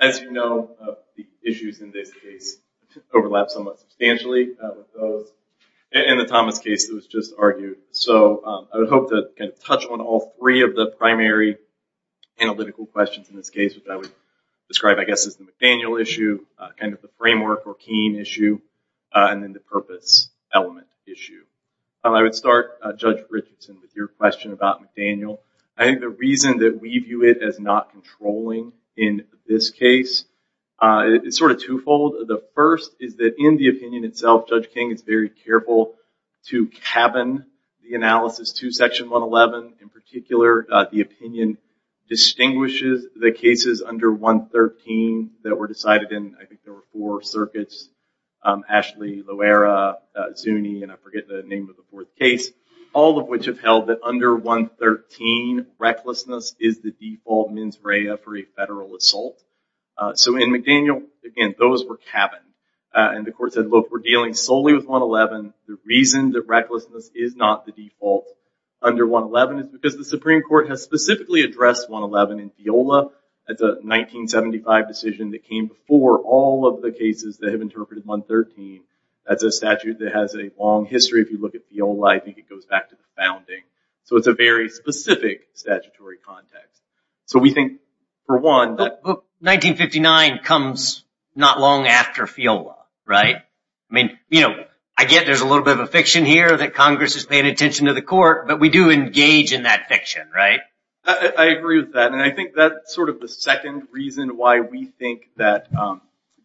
As you know, the issues in this case overlap somewhat substantially with those in the Thomas case that was just argued. So, I would hope to touch on all three of the primary analytical questions in this case, which I would describe, I guess, as the McDaniel issue, kind of the framework or Keene issue, and then the purpose element issue. I would start, Judge Richardson, with your question about McDaniel. I think the reason that we view it as not controlling in this case is sort of twofold. The first is that in the opinion itself, Judge King is very careful to cabin the analysis to Section 111. In particular, the opinion distinguishes the cases under 113 that were decided in, I think, there were four circuits, Ashley, Loera, Zuni, and I forget the name of the fourth case, all of which have held that under 113, recklessness is the default mens rea for a federal assault. So, in McDaniel, again, those were cabined. And the court said, look, we're dealing solely with 111. The reason that recklessness is not the default under 111 is because the Supreme Court has specifically addressed 111 in Fiola. That's a 1975 decision that came before all of the cases that have interpreted 113. That's a statute that has a long history. If you look at Fiola, I think it goes back to the founding. So, it's a very specific statutory context. So, we think, for one... But 1959 comes not long after Fiola, right? I mean, you know, I get there's a little bit of a fiction here that Congress is paying attention to the court, but we do engage in that fiction, right? I agree with that, and I think that's sort of the second reason why we think that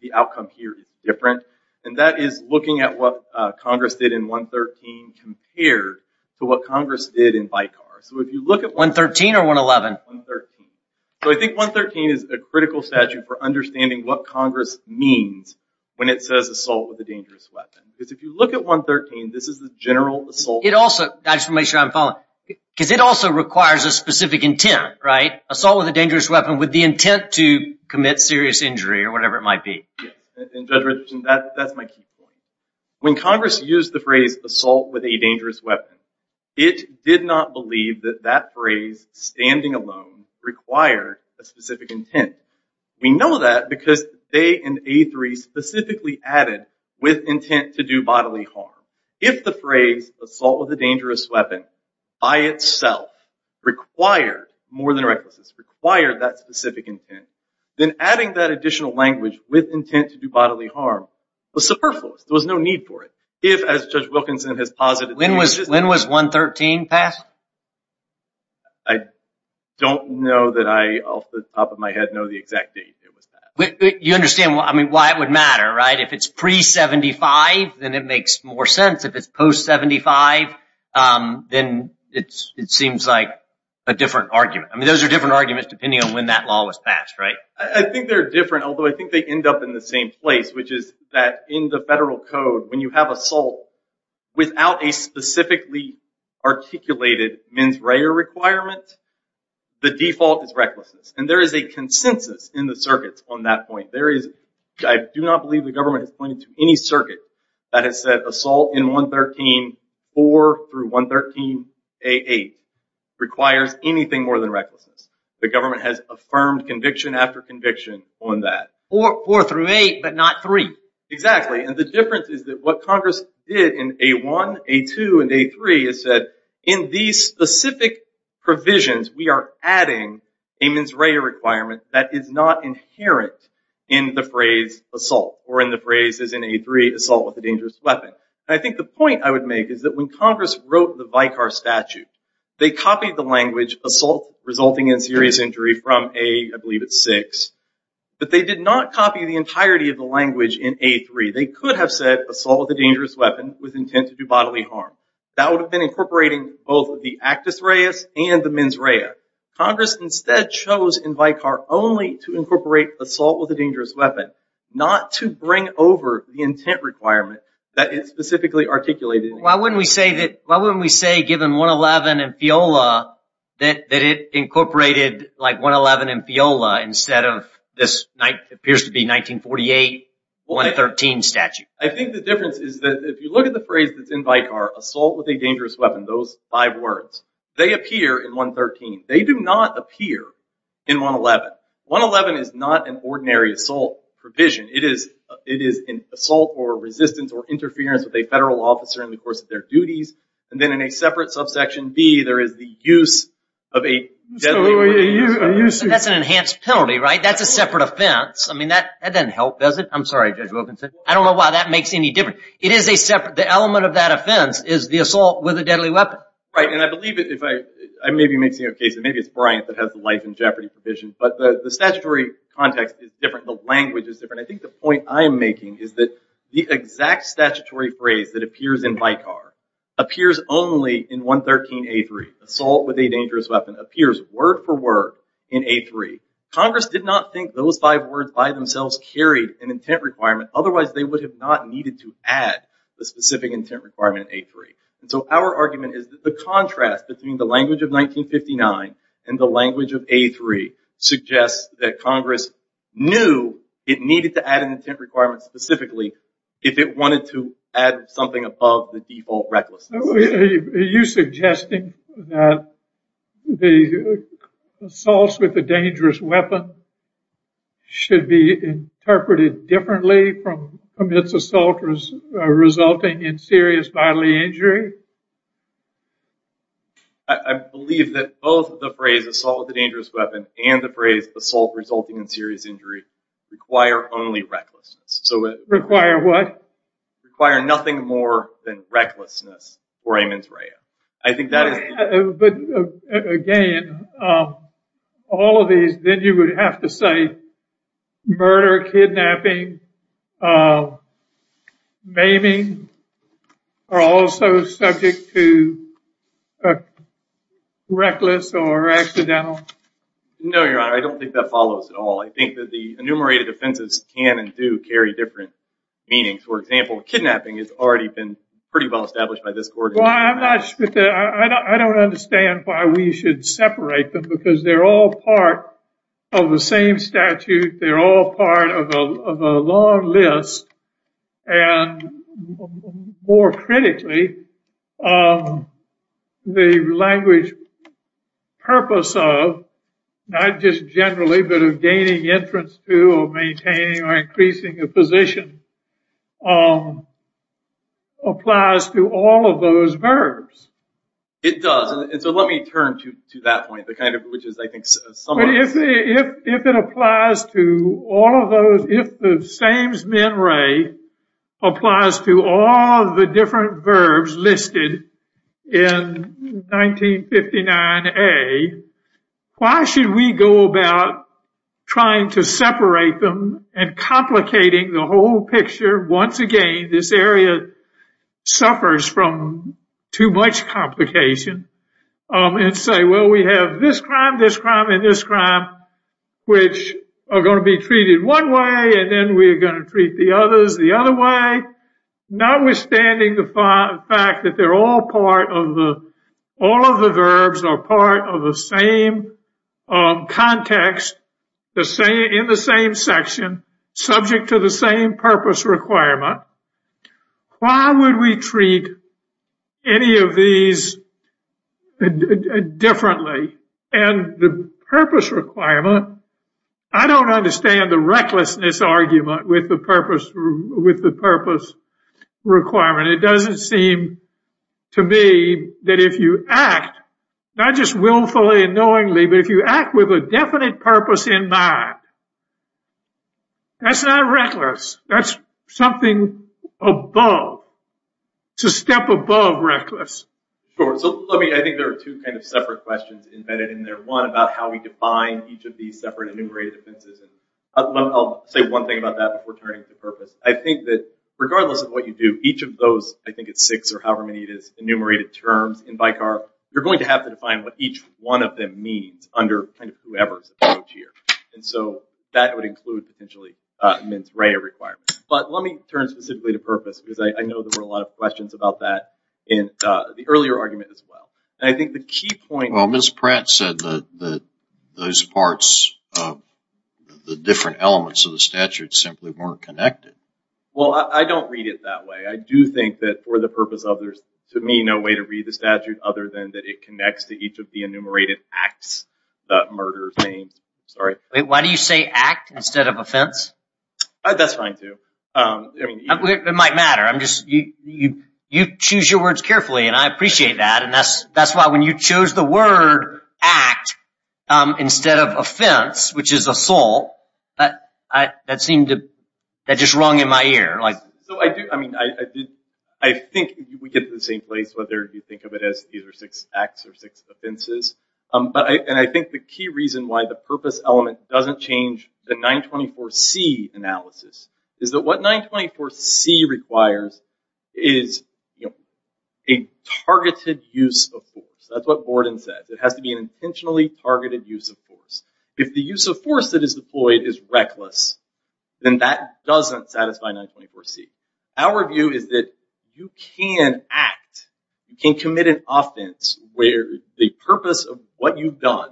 the outcome here is different, and that is looking at what Congress did in 113 compared to what Congress did in Bicar. So, if you look at... 113 or 111? 113. So, I think 113 is a critical statute for understanding what Congress means when it says assault with a dangerous weapon. Because if you look at 113, this is the general assault... It also... I just want to make sure I'm following. Because it also requires a specific intent, right? Assault with a dangerous weapon with the intent to commit serious injury or whatever it might be. Judge Richardson, that's my key point. When Congress used the phrase assault with a dangerous weapon, it did not believe that that phrase standing alone required a specific intent. We know that because they in A3 specifically added with intent to do bodily harm. If the phrase assault with a dangerous weapon by itself required more than recklessness, required that specific intent, then adding that additional language with intent to do bodily harm was superfluous. There was no need for it. If, as Judge Wilkinson has posited... When was 113 passed? I don't know that I off the top of my head know the exact date it was passed. You understand why it would matter, right? If it's pre-'75, then it makes more sense. If it's post-'75, then it seems like a different argument. I mean, those are different arguments depending on when that law was passed, right? I think they're different, although I think they end up in the same place, which is that in the federal code, when you have assault without a specifically articulated mens rea requirement, the default is recklessness. And there is a consensus in the circuits on that point. I do not believe the government has pointed to any circuit that has said assault in 113, 4 through 113A8, requires anything more than recklessness. The government has affirmed conviction after conviction on that. Four through eight, but not three. Exactly. And the difference is that what Congress did in A1, A2, and A3 is said, in these specific provisions, we are adding a mens rea requirement that is not inherent in the phrase assault, or in the phrases in A3, assault with a dangerous weapon. And I think the point I would make is that when Congress wrote the Vicar Statute, they copied the language assault resulting in serious injury from A, I believe it's 6, but they did not copy the entirety of the language in A3. They could have said assault with a dangerous weapon with intent to do bodily harm. That would have been incorporating both the actus reus and the mens rea. Congress instead chose in Vicar only to incorporate assault with a dangerous weapon, not to bring over the intent requirement that is specifically articulated. Why wouldn't we say that, why wouldn't we say, given 111 and FIOLA, that it incorporated like 111 and FIOLA instead of this appears to be 1948, 113 statute? I think the difference is that if you look at the phrase that's in Vicar, assault with a dangerous weapon, those five words, they appear in 113. They do not appear in 111. 111 is not an ordinary assault provision. It is assault or resistance or interference with a federal officer in the course of their duties. And then in a separate subsection B, there is the use of a deadly weapon. That's an enhanced penalty, right? That's a separate offense. I mean, that doesn't help, does it? I'm sorry, Judge Wilkinson. I don't know why that makes any difference. It is a separate, the element of that offense is the assault with a deadly weapon. Right, and I believe it, if I maybe make a case, and maybe it's Bryant that has the life in jeopardy provision, but the statutory context is different, the language is different. I think the point I'm making is that the exact statutory phrase that appears in Vicar appears only in 113A3, assault with a dangerous weapon, appears word for word in A3. Congress did not think those five words by themselves carried an intent requirement, otherwise they would have not needed to add the specific intent requirement in A3. And so our argument is that the contrast between the language of 1959 and the language of A3 suggests that Congress knew it needed to add an intent requirement specifically if it wanted to add something above the default recklessness. Are you suggesting that the assaults with a dangerous weapon should be interpreted differently from its assault resulting in serious bodily injury? I believe that both the phrase assault with a dangerous weapon and the phrase assault resulting in serious injury require only recklessness. Require what? Require nothing more than recklessness for a mens rea. But again, all of these, then you would have to say murder, kidnapping, maiming are also subject to reckless or accidental? No, Your Honor, I don't think that follows at all. I think that the enumerated offenses can and do carry different meanings. For example, kidnapping has already been pretty well established by this court. I don't understand why we should separate them because they're all part of the same statute. They're all part of a long list. And more critically, the language purpose of, not just generally, but of gaining entrance to or maintaining or increasing a position applies to all of those verbs. It does. And so let me turn to that point, which is I think somewhat— If it applies to all of those— If the same mens rea applies to all the different verbs listed in 1959A, why should we go about trying to separate them and complicating the whole picture? Once again, this area suffers from too much complication. And say, well, we have this crime, this crime, and this crime, which are going to be treated one way, and then we're going to treat the others the other way. Notwithstanding the fact that they're all part of the— all of the verbs are part of the same context, in the same section, subject to the same purpose requirement, why would we treat any of these differently? And the purpose requirement— I don't understand the recklessness argument with the purpose requirement. It doesn't seem to me that if you act, not just willfully and knowingly, but if you act with a definite purpose in mind, that's not reckless. That's something above. It's a step above reckless. Sure. So let me—I think there are two kind of separate questions embedded in there. One, about how we define each of these separate enumerated offenses. And I'll say one thing about that before turning to purpose. I think that regardless of what you do, each of those— I think it's six or however many it is—enumerated terms in Vicar, you're going to have to define what each one of them means under kind of whoever's approach here. And so that would include potentially Mince Ray requirements. But let me turn specifically to purpose because I know there were a lot of questions about that in the earlier argument as well. And I think the key point— Well, Ms. Pratt said that those parts, the different elements of the statute, simply weren't connected. Well, I don't read it that way. I do think that for the purpose of there's, to me, no way to read the statute other than that it connects to each of the enumerated acts, the murder names. Why do you say act instead of offense? That's fine, too. It might matter. I'm just—you choose your words carefully, and I appreciate that. And that's why when you chose the word act instead of offense, which is assault, that seemed to—that just rung in my ear. I think we get to the same place whether you think of it as either six acts or six offenses. And I think the key reason why the purpose element doesn't change the 924C analysis is that what 924C requires is a targeted use of force. That's what Borden says. It has to be an intentionally targeted use of force. If the use of force that is deployed is reckless, then that doesn't satisfy 924C. Our view is that you can act, you can commit an offense where the purpose of what you've done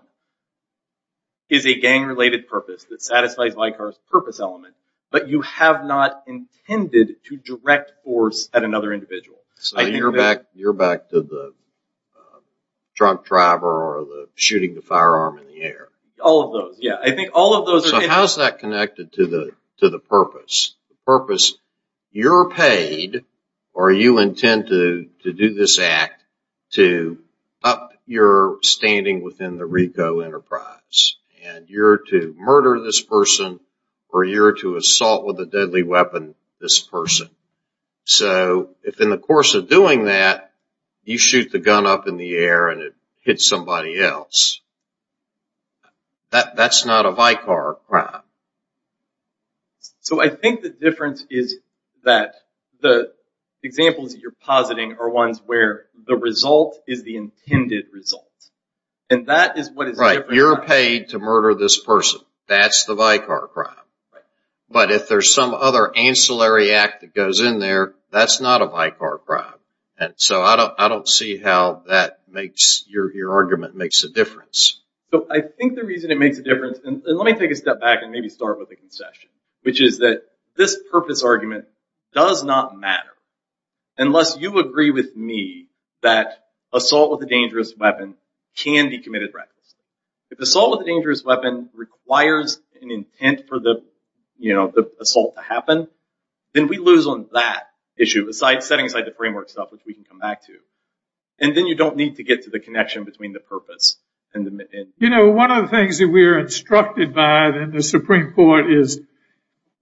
is a gang-related purpose that satisfies Leicar's purpose element, but you have not intended to direct force at another individual. You're back to the drunk driver or the shooting the firearm in the air. All of those, yeah. I think all of those— So how is that connected to the purpose? The purpose, you're paid or you intend to do this act to up your standing within the RICO enterprise. And you're to murder this person or you're to assault with a deadly weapon this person. So if in the course of doing that, you shoot the gun up in the air and it hits somebody else, that's not a Leicar crime. So I think the difference is that the examples you're positing are ones where the result is the intended result. And that is what is different. Right. You're paid to murder this person. That's the Leicar crime. Right. But if there's some other ancillary act that goes in there, that's not a Leicar crime. So I don't see how that makes—your argument makes a difference. I think the reason it makes a difference—and let me take a step back and maybe start with a concession, which is that this purpose argument does not matter unless you agree with me that assault with a dangerous weapon can be committed recklessly. If assault with a dangerous weapon requires an intent for the assault to happen, then we lose on that issue, setting aside the framework stuff, which we can come back to. And then you don't need to get to the connection between the purpose and the— You know, one of the things that we are instructed by in the Supreme Court is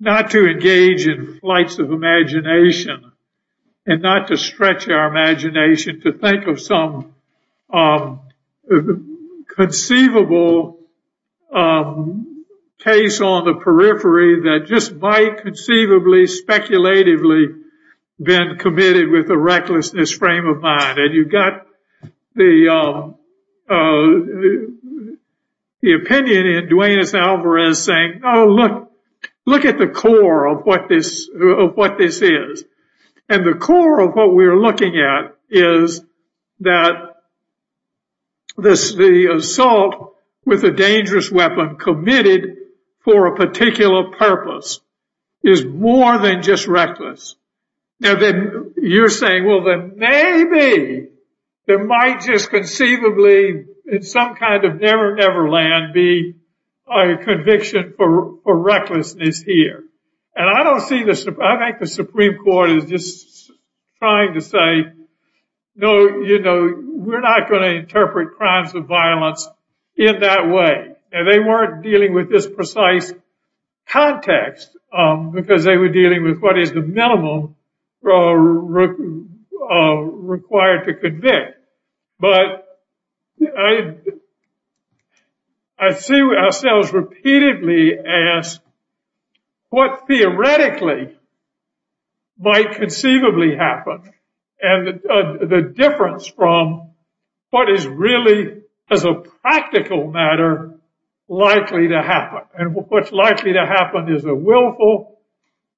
not to engage in flights of imagination and not to stretch our imagination to think of some conceivable case on the periphery that just might conceivably, speculatively been committed with a recklessness frame of mind. And you've got the opinion in Duenes-Alvarez saying, oh, look at the core of what this is. And the core of what we're looking at is that the assault with a dangerous weapon committed for a particular purpose Now, then you're saying, well, then maybe there might just conceivably in some kind of never, never land be a conviction for recklessness here. And I don't see this—I think the Supreme Court is just trying to say, no, you know, we're not going to interpret crimes of violence in that way. And they weren't dealing with this precise context because they were dealing with what is the minimum required to convict. But I see ourselves repeatedly asked what theoretically might conceivably happen. And the difference from what is really, as a practical matter, likely to happen. And what's likely to happen is a willful,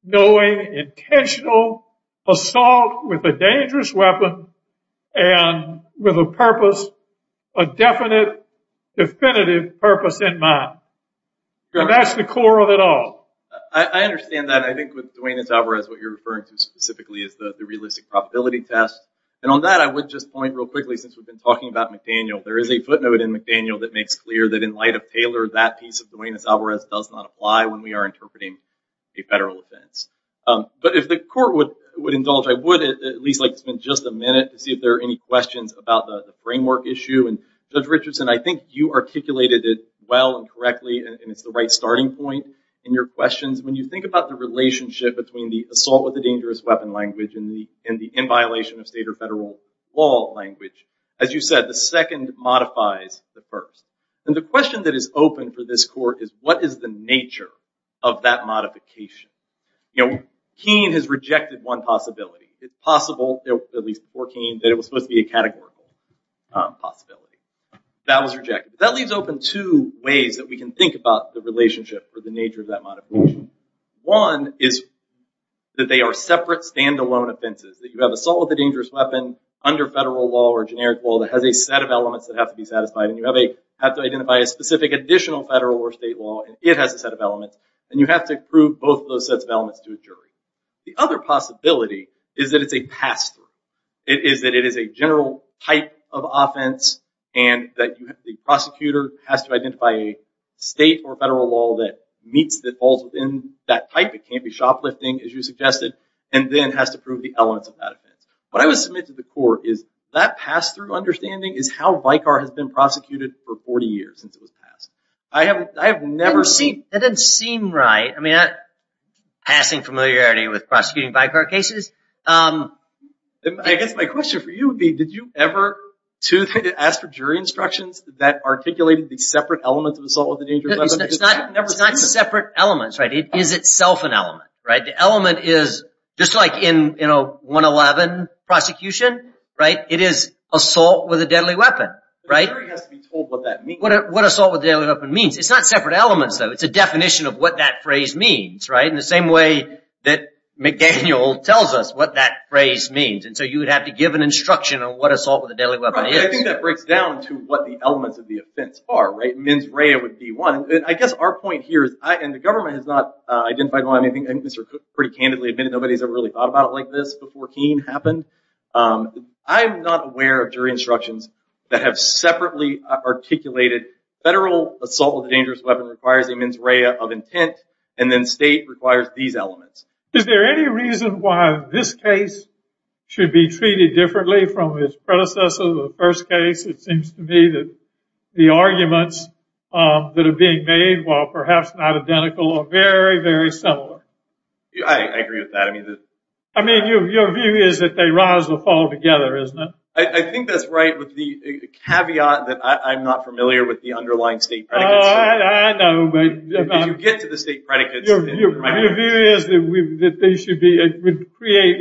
knowing, intentional assault with a dangerous weapon and with a purpose, a definite, definitive purpose in mind. And that's the core of it all. I understand that. I think with Duane S. Alvarez, what you're referring to specifically is the realistic probability test. And on that, I would just point real quickly, since we've been talking about McDaniel, there is a footnote in McDaniel that makes clear that in light of Taylor, that piece of Duane S. Alvarez does not apply when we are interpreting a federal offense. But if the court would indulge, I would at least like to spend just a minute to see if there are any questions about the framework issue. And Judge Richardson, I think you articulated it well and correctly, and it's the right starting point in your questions. When you think about the relationship between the assault with a dangerous weapon language and the in violation of state or federal law language, as you said, the second modifies the first. And the question that is open for this court is what is the nature of that modification? Keene has rejected one possibility. It's possible, at least before Keene, that it was supposed to be a categorical possibility. That was rejected. That leaves open two ways that we can think about the relationship or the nature of that modification. One is that they are separate, stand-alone offenses. That you have assault with a dangerous weapon under federal law or generic law that has a set of elements that have to be satisfied. And you have to identify a specific additional federal or state law, and it has a set of elements. The other possibility is that it's a pass-through. It is that it is a general type of offense and that the prosecutor has to identify a state or federal law that meets the falls within that type. It can't be shoplifting, as you suggested, and then has to prove the elements of that offense. What I would submit to the court is that pass-through understanding is how Vicar has been prosecuted for 40 years since it was passed. I have never seen... Passing familiarity with prosecuting Vicar cases. I guess my question for you would be, did you ever ask for jury instructions that articulated the separate elements of assault with a dangerous weapon? It's not separate elements. It is itself an element. The element is, just like in 111 prosecution, it is assault with a deadly weapon. The jury has to be told what that means. What assault with a deadly weapon means. It's not separate elements, though. It's a definition of what that phrase means. In the same way that McDaniel tells us what that phrase means. You would have to give an instruction on what assault with a deadly weapon is. I think that breaks down to what the elements of the offense are. Mens rea would be one. I guess our point here is, and the government has not identified one. I think Mr. Cook pretty candidly admitted nobody has ever really thought about it like this before Keene happened. I'm not aware of jury instructions that have separately articulated federal assault with a dangerous weapon requires a mens rea of intent, and then state requires these elements. Is there any reason why this case should be treated differently from its predecessor to the first case? It seems to me that the arguments that are being made, while perhaps not identical, are very, very similar. I agree with that. I mean, your view is that they rise or fall together, isn't it? I think that's right with the caveat that I'm not familiar with the underlying state predicates. Oh, I know. But you get to the state predicates. Your view is that they should create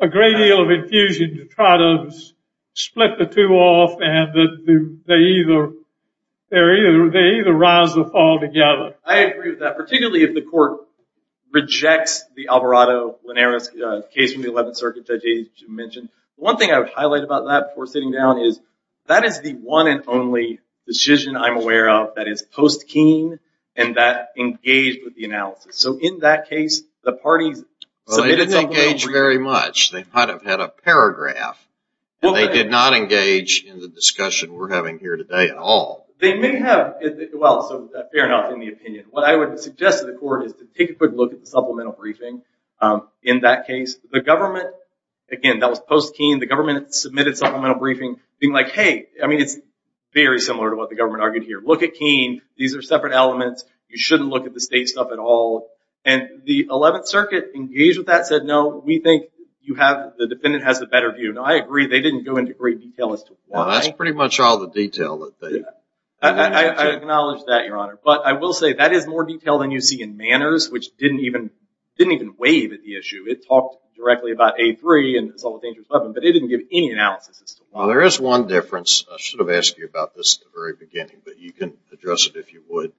a great deal of infusion to try to split the two off and that they either rise or fall together. I agree with that, particularly if the court rejects the Alvarado-Linares case from the 11th Circuit Judge mentioned. One thing I would highlight about that before sitting down is that is the one and only decision I'm aware of that is post-Keene and that engaged with the analysis. So, in that case, the parties submitted… They didn't engage very much. They might have had a paragraph. They did not engage in the discussion we're having here today at all. They may have. Well, so fair enough in the opinion. What I would suggest to the court is to take a quick look at the supplemental briefing in that case. The government, again, that was post-Keene. The government submitted supplemental briefing being like, hey, I mean, it's very similar to what the government argued here. Look at Keene. These are separate elements. You shouldn't look at the state stuff at all. And the 11th Circuit engaged with that, said, no, we think the defendant has a better view. Now, I agree they didn't go into great detail as to why. Well, that's pretty much all the detail that they… I acknowledge that, Your Honor. But I will say that is more detail than you see in Manners, which didn't even wave at the issue. It talked directly about A3 and assault with dangerous weapon, but it didn't give any analysis as to why. Well, there is one difference. I should have asked you about this at the very beginning, but you can address it if you would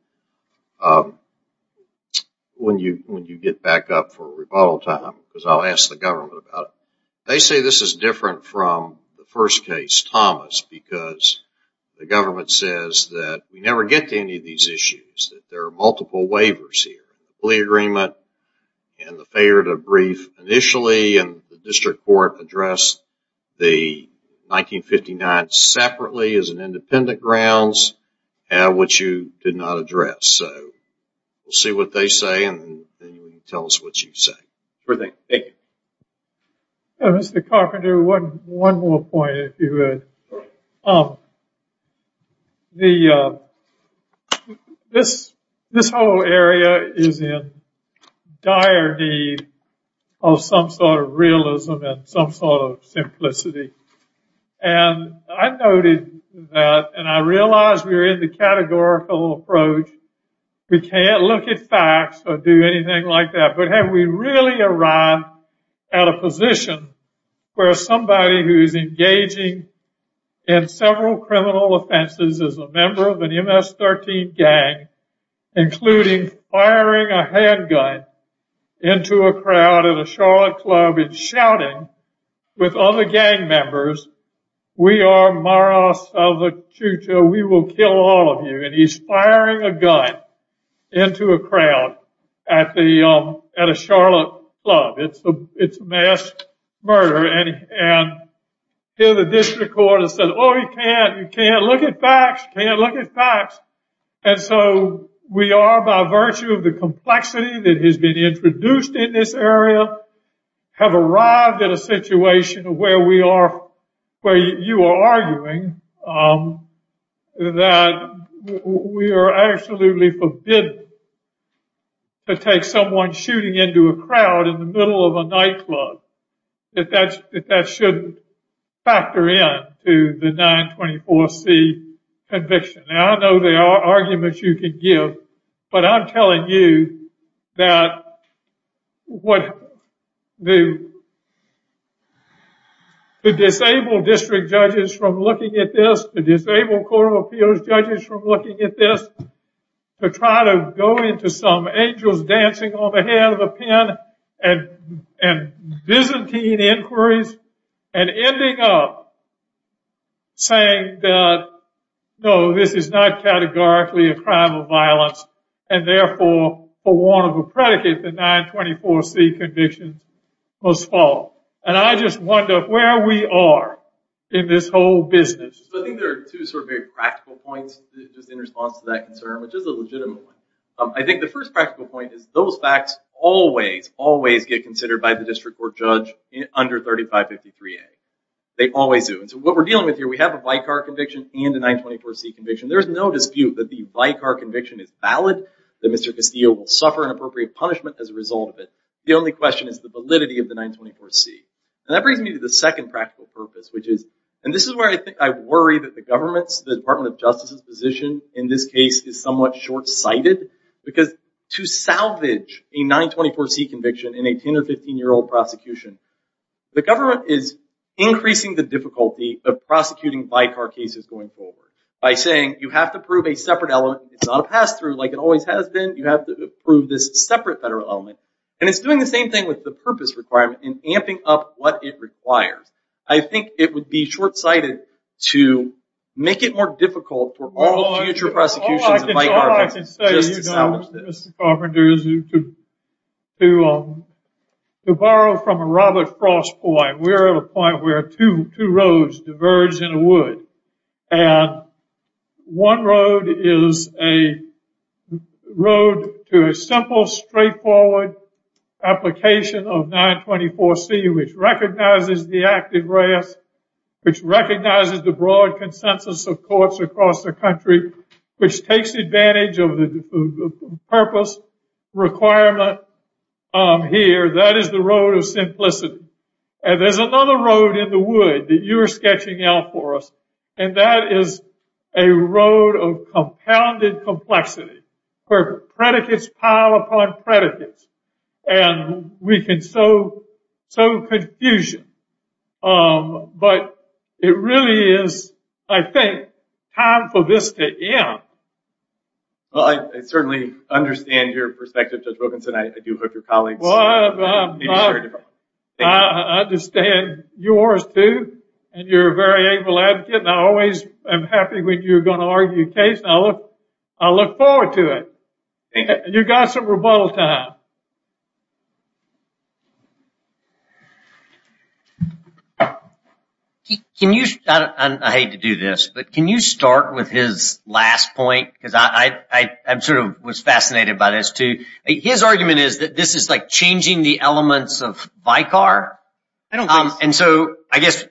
when you get back up for rebuttal time, because I'll ask the government about it. They say this is different from the first case, Thomas, because the government says that we never get to any of these issues, that there are multiple waivers here. The plea agreement and the failure to brief initially, and the district court addressed the 1959 separately as an independent grounds, which you did not address. So we'll see what they say, and then you can tell us what you say. Sure thing. Thank you. Mr. Carpenter, one more point if you would. This whole area is in dire need of some sort of realism and some sort of simplicity. And I noted that, and I realize we're in the categorical approach. We can't look at facts or do anything like that. But have we really arrived at a position where somebody who is engaging in several criminal offenses as a member of an MS-13 gang, including firing a handgun into a crowd at a Charlotte club and shouting with other gang members, We are Maras of the future. We will kill all of you. And he's firing a gun into a crowd at a Charlotte club. It's a mass murder. And here the district court has said, oh, you can't. You can't look at facts. You can't look at facts. And so we are, by virtue of the complexity that has been introduced in this area, have arrived at a situation where you are arguing that we are absolutely forbidden to take someone shooting into a crowd in the middle of a nightclub. That that should factor in to the 924C conviction. And I know there are arguments you can give. But I'm telling you that what the disabled district judges from looking at this, the disabled court of appeals judges from looking at this, to try to go into some angels dancing on the head of a pen and Byzantine inquiries, and ending up saying that, no, this is not categorically a crime of violence, and therefore for warrant of a predicate, the 924C conviction was false. And I just wonder where we are in this whole business. I think there are two sort of very practical points just in response to that concern, which is a legitimate one. I think the first practical point is those facts always, always get considered by the district court judge under 3553A. They always do. And so what we're dealing with here, we have a Vicar conviction and a 924C conviction. There's no dispute that the Vicar conviction is valid, that Mr. Castillo will suffer an appropriate punishment as a result of it. The only question is the validity of the 924C. And that brings me to the second practical purpose, which is, and this is where I think I worry that the government's, the Department of Justice's position in this case is somewhat short-sighted, because to salvage a 924C conviction in a 10- or 15-year-old prosecution, the government is increasing the difficulty of prosecuting Vicar cases going forward by saying you have to prove a separate element. It's not a pass-through like it always has been. You have to prove this separate federal element. And it's doing the same thing with the purpose requirement in amping up what it requires. I think it would be short-sighted to make it more difficult for all future prosecutions of Vicar cases just to salvage this. All I can say, Mr. Carpenter, is to borrow from a Robert Frost point. We're at a point where two roads diverge in a wood, and one road is a road to a simple, straightforward application of 924C which recognizes the active rest, which recognizes the broad consensus of courts across the country, which takes advantage of the purpose requirement here. That is the road of simplicity. And there's another road in the wood that you're sketching out for us, and that is a road of compounded complexity where predicates pile upon predicates. And we can sow confusion. But it really is, I think, time for this to end. Well, I certainly understand your perspective, Judge Wilkinson. I do hope your colleagues will be assured. I understand yours, too. And you're a very able advocate, and I always am happy when you're going to argue a case, and I look forward to it. You've got some rebuttal time. I hate to do this, but can you start with his last point? Because I sort of was fascinated by this, too. His argument is that this is like changing the elements of Vicar. And so I guess,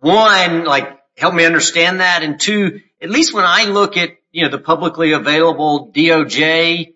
one, like help me understand that, and, two, at least when I look at the publicly available DOJ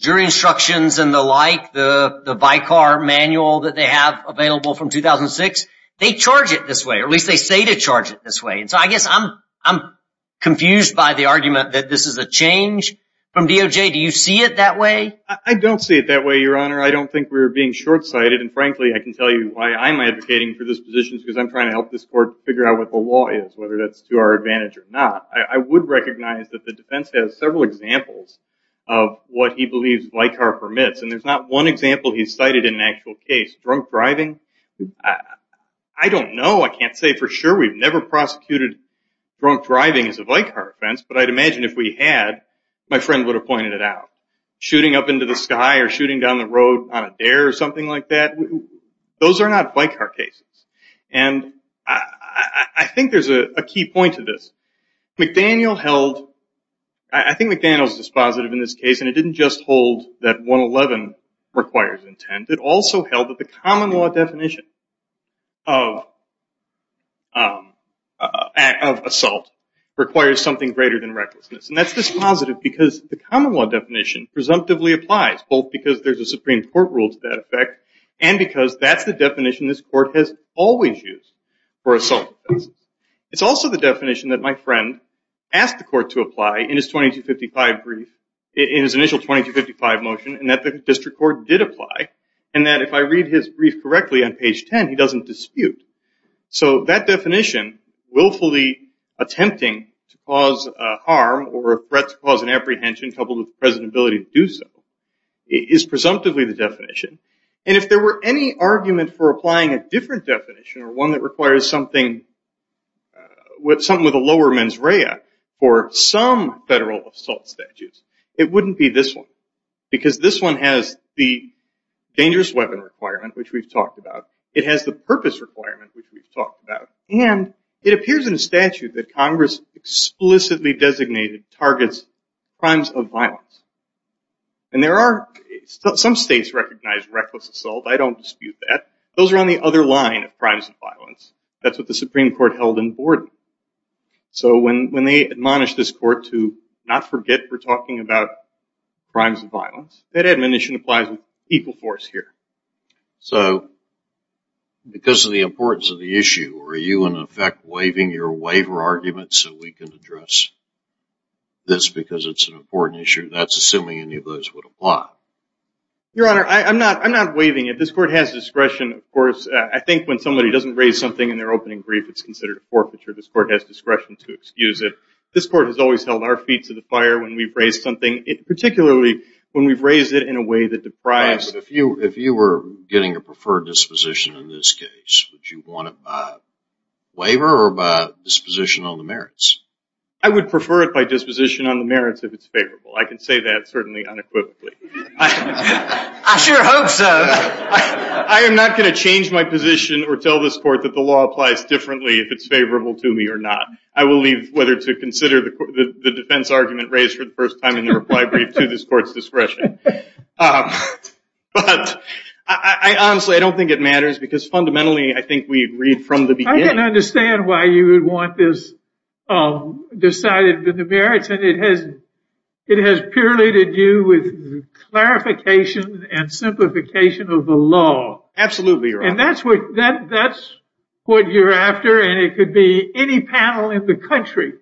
jury instructions and the like, the Vicar manual that they have available from 2006, they charge it this way, or at least they say to charge it this way. And so I guess I'm confused by the argument that this is a change from DOJ. Do you see it that way? I don't see it that way, Your Honor. I don't think we're being short-sighted. And, frankly, I can tell you why I'm advocating for this position is because I'm trying to help this court figure out what the law is, whether that's to our advantage or not. I would recognize that the defense has several examples of what he believes Vicar permits, and there's not one example he's cited in an actual case. Drunk driving? I don't know. I can't say for sure. We've never prosecuted drunk driving as a Vicar offense, but I'd imagine if we had, my friend would have pointed it out. Shooting up into the sky or shooting down the road on a dare or something like that? Those are not Vicar cases. And I think there's a key point to this. McDaniel held, I think McDaniel's dispositive in this case, and it didn't just hold that 111 requires intent. It also held that the common law definition of assault requires something greater than recklessness. And that's dispositive because the common law definition presumptively applies, both because there's a Supreme Court rule to that effect, and because that's the definition this court has always used for assault defense. It's also the definition that my friend asked the court to apply in his initial 2255 motion, and that the district court did apply, and that if I read his brief correctly on page 10, he doesn't dispute. So that definition, willfully attempting to cause harm or a threat to cause an apprehension coupled with the president's ability to do so, is presumptively the definition. And if there were any argument for applying a different definition, or one that requires something with a lower mens rea for some federal assault statutes, it wouldn't be this one, because this one has the dangerous weapon requirement, which we've talked about. It has the purpose requirement, which we've talked about. And it appears in the statute that Congress explicitly designated targets crimes of violence. And there are some states recognize reckless assault. I don't dispute that. Those are on the other line of crimes of violence. That's what the Supreme Court held in Borden. So when they admonish this court to not forget we're talking about crimes of violence, that admonition applies with equal force here. So because of the importance of the issue, are you in effect waiving your waiver argument so we can address this, because it's an important issue? That's assuming any of those would apply. Your Honor, I'm not waiving it. This court has discretion, of course. I think when somebody doesn't raise something in their opening brief, it's considered a forfeiture. This court has discretion to excuse it. This court has always held our feet to the fire when we've raised something, particularly when we've raised it in a way that deprives. If you were getting a preferred disposition in this case, would you want it by waiver or by disposition on the merits? I would prefer it by disposition on the merits if it's favorable. I can say that certainly unequivocally. I sure hope so. I am not going to change my position or tell this court that the law applies differently if it's favorable to me or not. I will leave whether to consider the defense argument raised for the first time in the reply brief to this court's discretion. Honestly, I don't think it matters because fundamentally, I think we agreed from the beginning. I can understand why you would want this decided with the merits. It has purely to do with clarification and simplification of the law. Absolutely, Your Honor. That's what you're after, and it could be any panel in the country,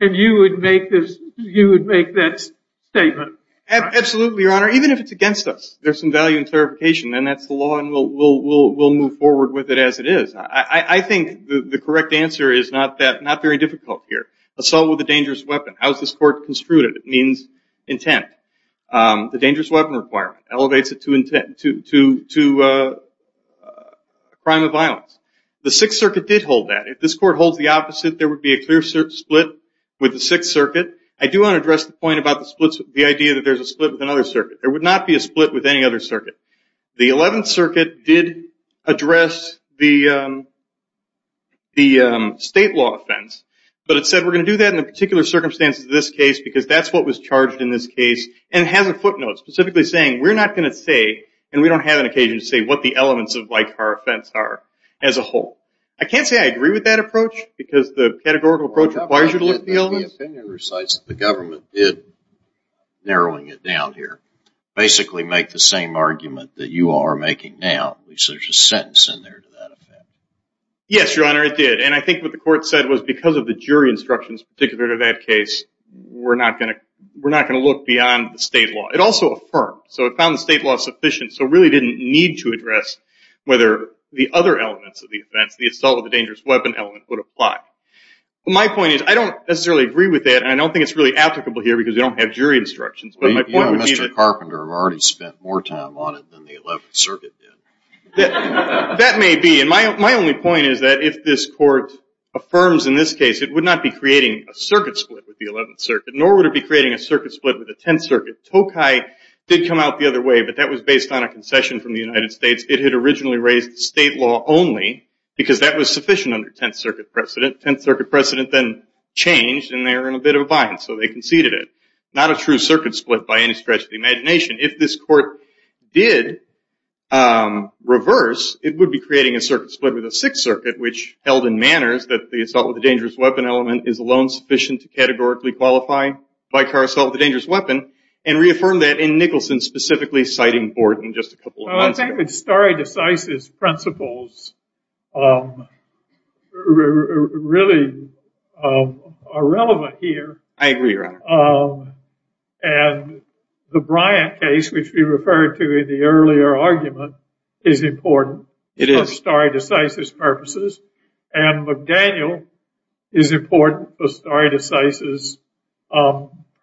and you would make that statement. Absolutely, Your Honor. Even if it's against us, there's some value in clarification, and that's the law, and we'll move forward with it as it is. I think the correct answer is not very difficult here. Assault with a dangerous weapon. How is this court construed? It means intent. The dangerous weapon requirement elevates it to crime of violence. The Sixth Circuit did hold that. If this court holds the opposite, there would be a clear split with the Sixth Circuit. I do want to address the point about the idea that there's a split with another circuit. There would not be a split with any other circuit. The Eleventh Circuit did address the state law offense, but it said we're going to do that in the particular circumstances of this case because that's what was charged in this case, and it has a footnote specifically saying we're not going to say, and we don't have an occasion to say, what the elements of our offense are as a whole. I can't say I agree with that approach because the categorical approach requires you to look at the elements. My opinion recites that the government did, narrowing it down here, basically make the same argument that you all are making now. At least there's a sentence in there to that effect. Yes, Your Honor, it did, and I think what the court said was because of the jury instructions particular to that case, we're not going to look beyond the state law. It also affirmed. So it found the state law sufficient, so it really didn't need to address whether the other elements of the offense, the assault with a dangerous weapon element, would apply. My point is I don't necessarily agree with that, and I don't think it's really applicable here because we don't have jury instructions. Mr. Carpenter already spent more time on it than the 11th Circuit did. That may be, and my only point is that if this court affirms in this case, it would not be creating a circuit split with the 11th Circuit, nor would it be creating a circuit split with the 10th Circuit. Tokai did come out the other way, but that was based on a concession from the United States. It had originally raised state law only, because that was sufficient under 10th Circuit precedent. 10th Circuit precedent then changed, and they were in a bit of a bind, so they conceded it. Not a true circuit split by any stretch of the imagination. If this court did reverse, it would be creating a circuit split with the 6th Circuit, which held in manners that the assault with a dangerous weapon element is alone sufficient to categorically qualify by car assault with a dangerous weapon, specifically citing Borden just a couple of months ago. I would say that stare decisis principles really are relevant here. I agree, Your Honor. And the Bryant case, which we referred to in the earlier argument, is important for stare decisis purposes, and McDaniel is important for stare decisis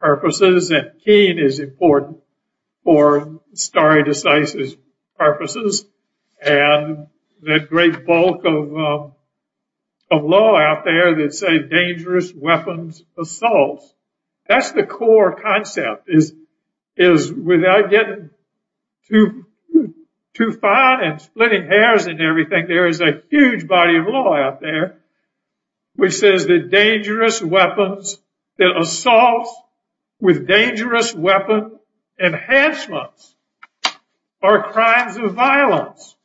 purposes, and Keene is important for stare decisis purposes, and that great bulk of law out there that say dangerous weapons assaults, that's the core concept, is without getting too fine and splitting hairs and everything, there is a huge body of law out there which says that dangerous weapons, that assaults with dangerous weapon enhancements are crimes of violence.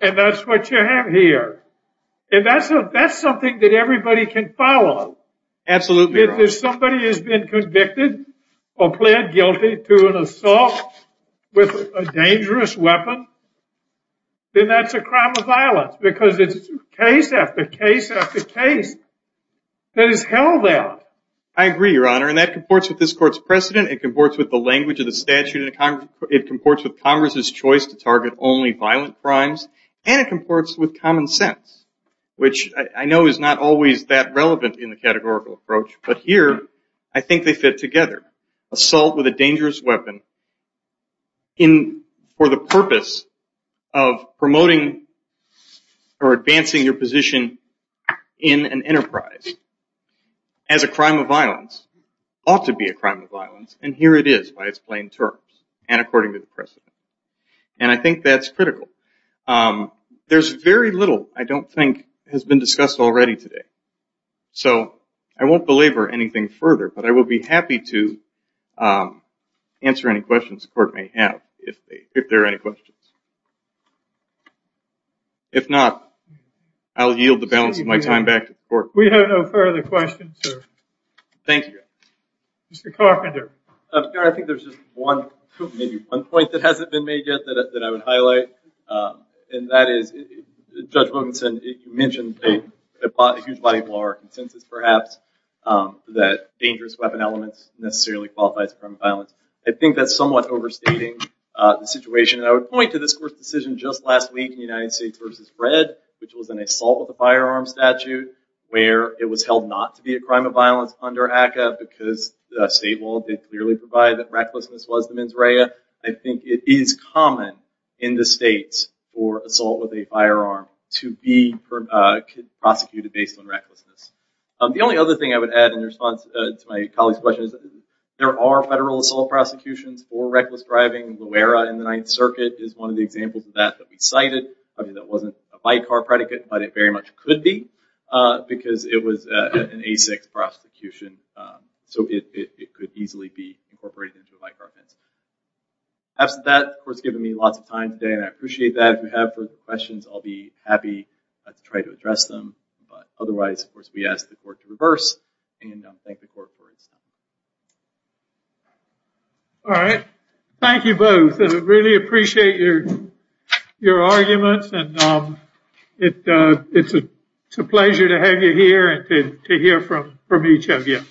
And that's what you have here. And that's something that everybody can follow. Absolutely, Your Honor. If somebody has been convicted or pled guilty to an assault with a dangerous weapon, then that's a crime of violence because it's case after case after case that is held out. I agree, Your Honor, and that comports with this court's precedent, it comports with the language of the statute, it comports with Congress's choice to target only violent crimes, and it comports with common sense, which I know is not always that relevant in the categorical approach, but here I think they fit together. Assault with a dangerous weapon for the purpose of promoting or advancing your position in an enterprise as a crime of violence ought to be a crime of violence, and here it is by its plain terms and according to the precedent. And I think that's critical. There's very little I don't think has been discussed already today, so I won't belabor anything further, but I will be happy to answer any questions the court may have if there are any questions. If not, I'll yield the balance of my time back to the court. We have no further questions, sir. Thank you, Your Honor. Mr. Carpenter. Your Honor, I think there's just one, maybe one point that hasn't been made yet that I would highlight, and that is Judge Wilkinson, you mentioned a huge body of law or consensus perhaps that dangerous weapon elements necessarily qualify as a crime of violence. I think that's somewhat overstating the situation, and I would point to this court's decision just last week in United States v. Red, which was an assault with a firearm statute where it was held not to be a crime of violence under ACCA because the state law did clearly provide that recklessness was the mens rea. I think it is common in the states for assault with a firearm to be prosecuted based on recklessness. The only other thing I would add in response to my colleague's question is there are federal assault prosecutions for reckless driving. Loera in the Ninth Circuit is one of the examples of that that we cited. Obviously, that wasn't a by-car predicate, but it very much could be because it was an A6 prosecution, so it could easily be incorporated into a by-car offense. After that, the court's given me lots of time today, and I appreciate that. If you have further questions, I'll be happy to try to address them. But otherwise, of course, we ask the court to reverse and thank the court for its time. All right. Thank you both. I really appreciate your arguments, and it's a pleasure to have you here and to hear from each of you.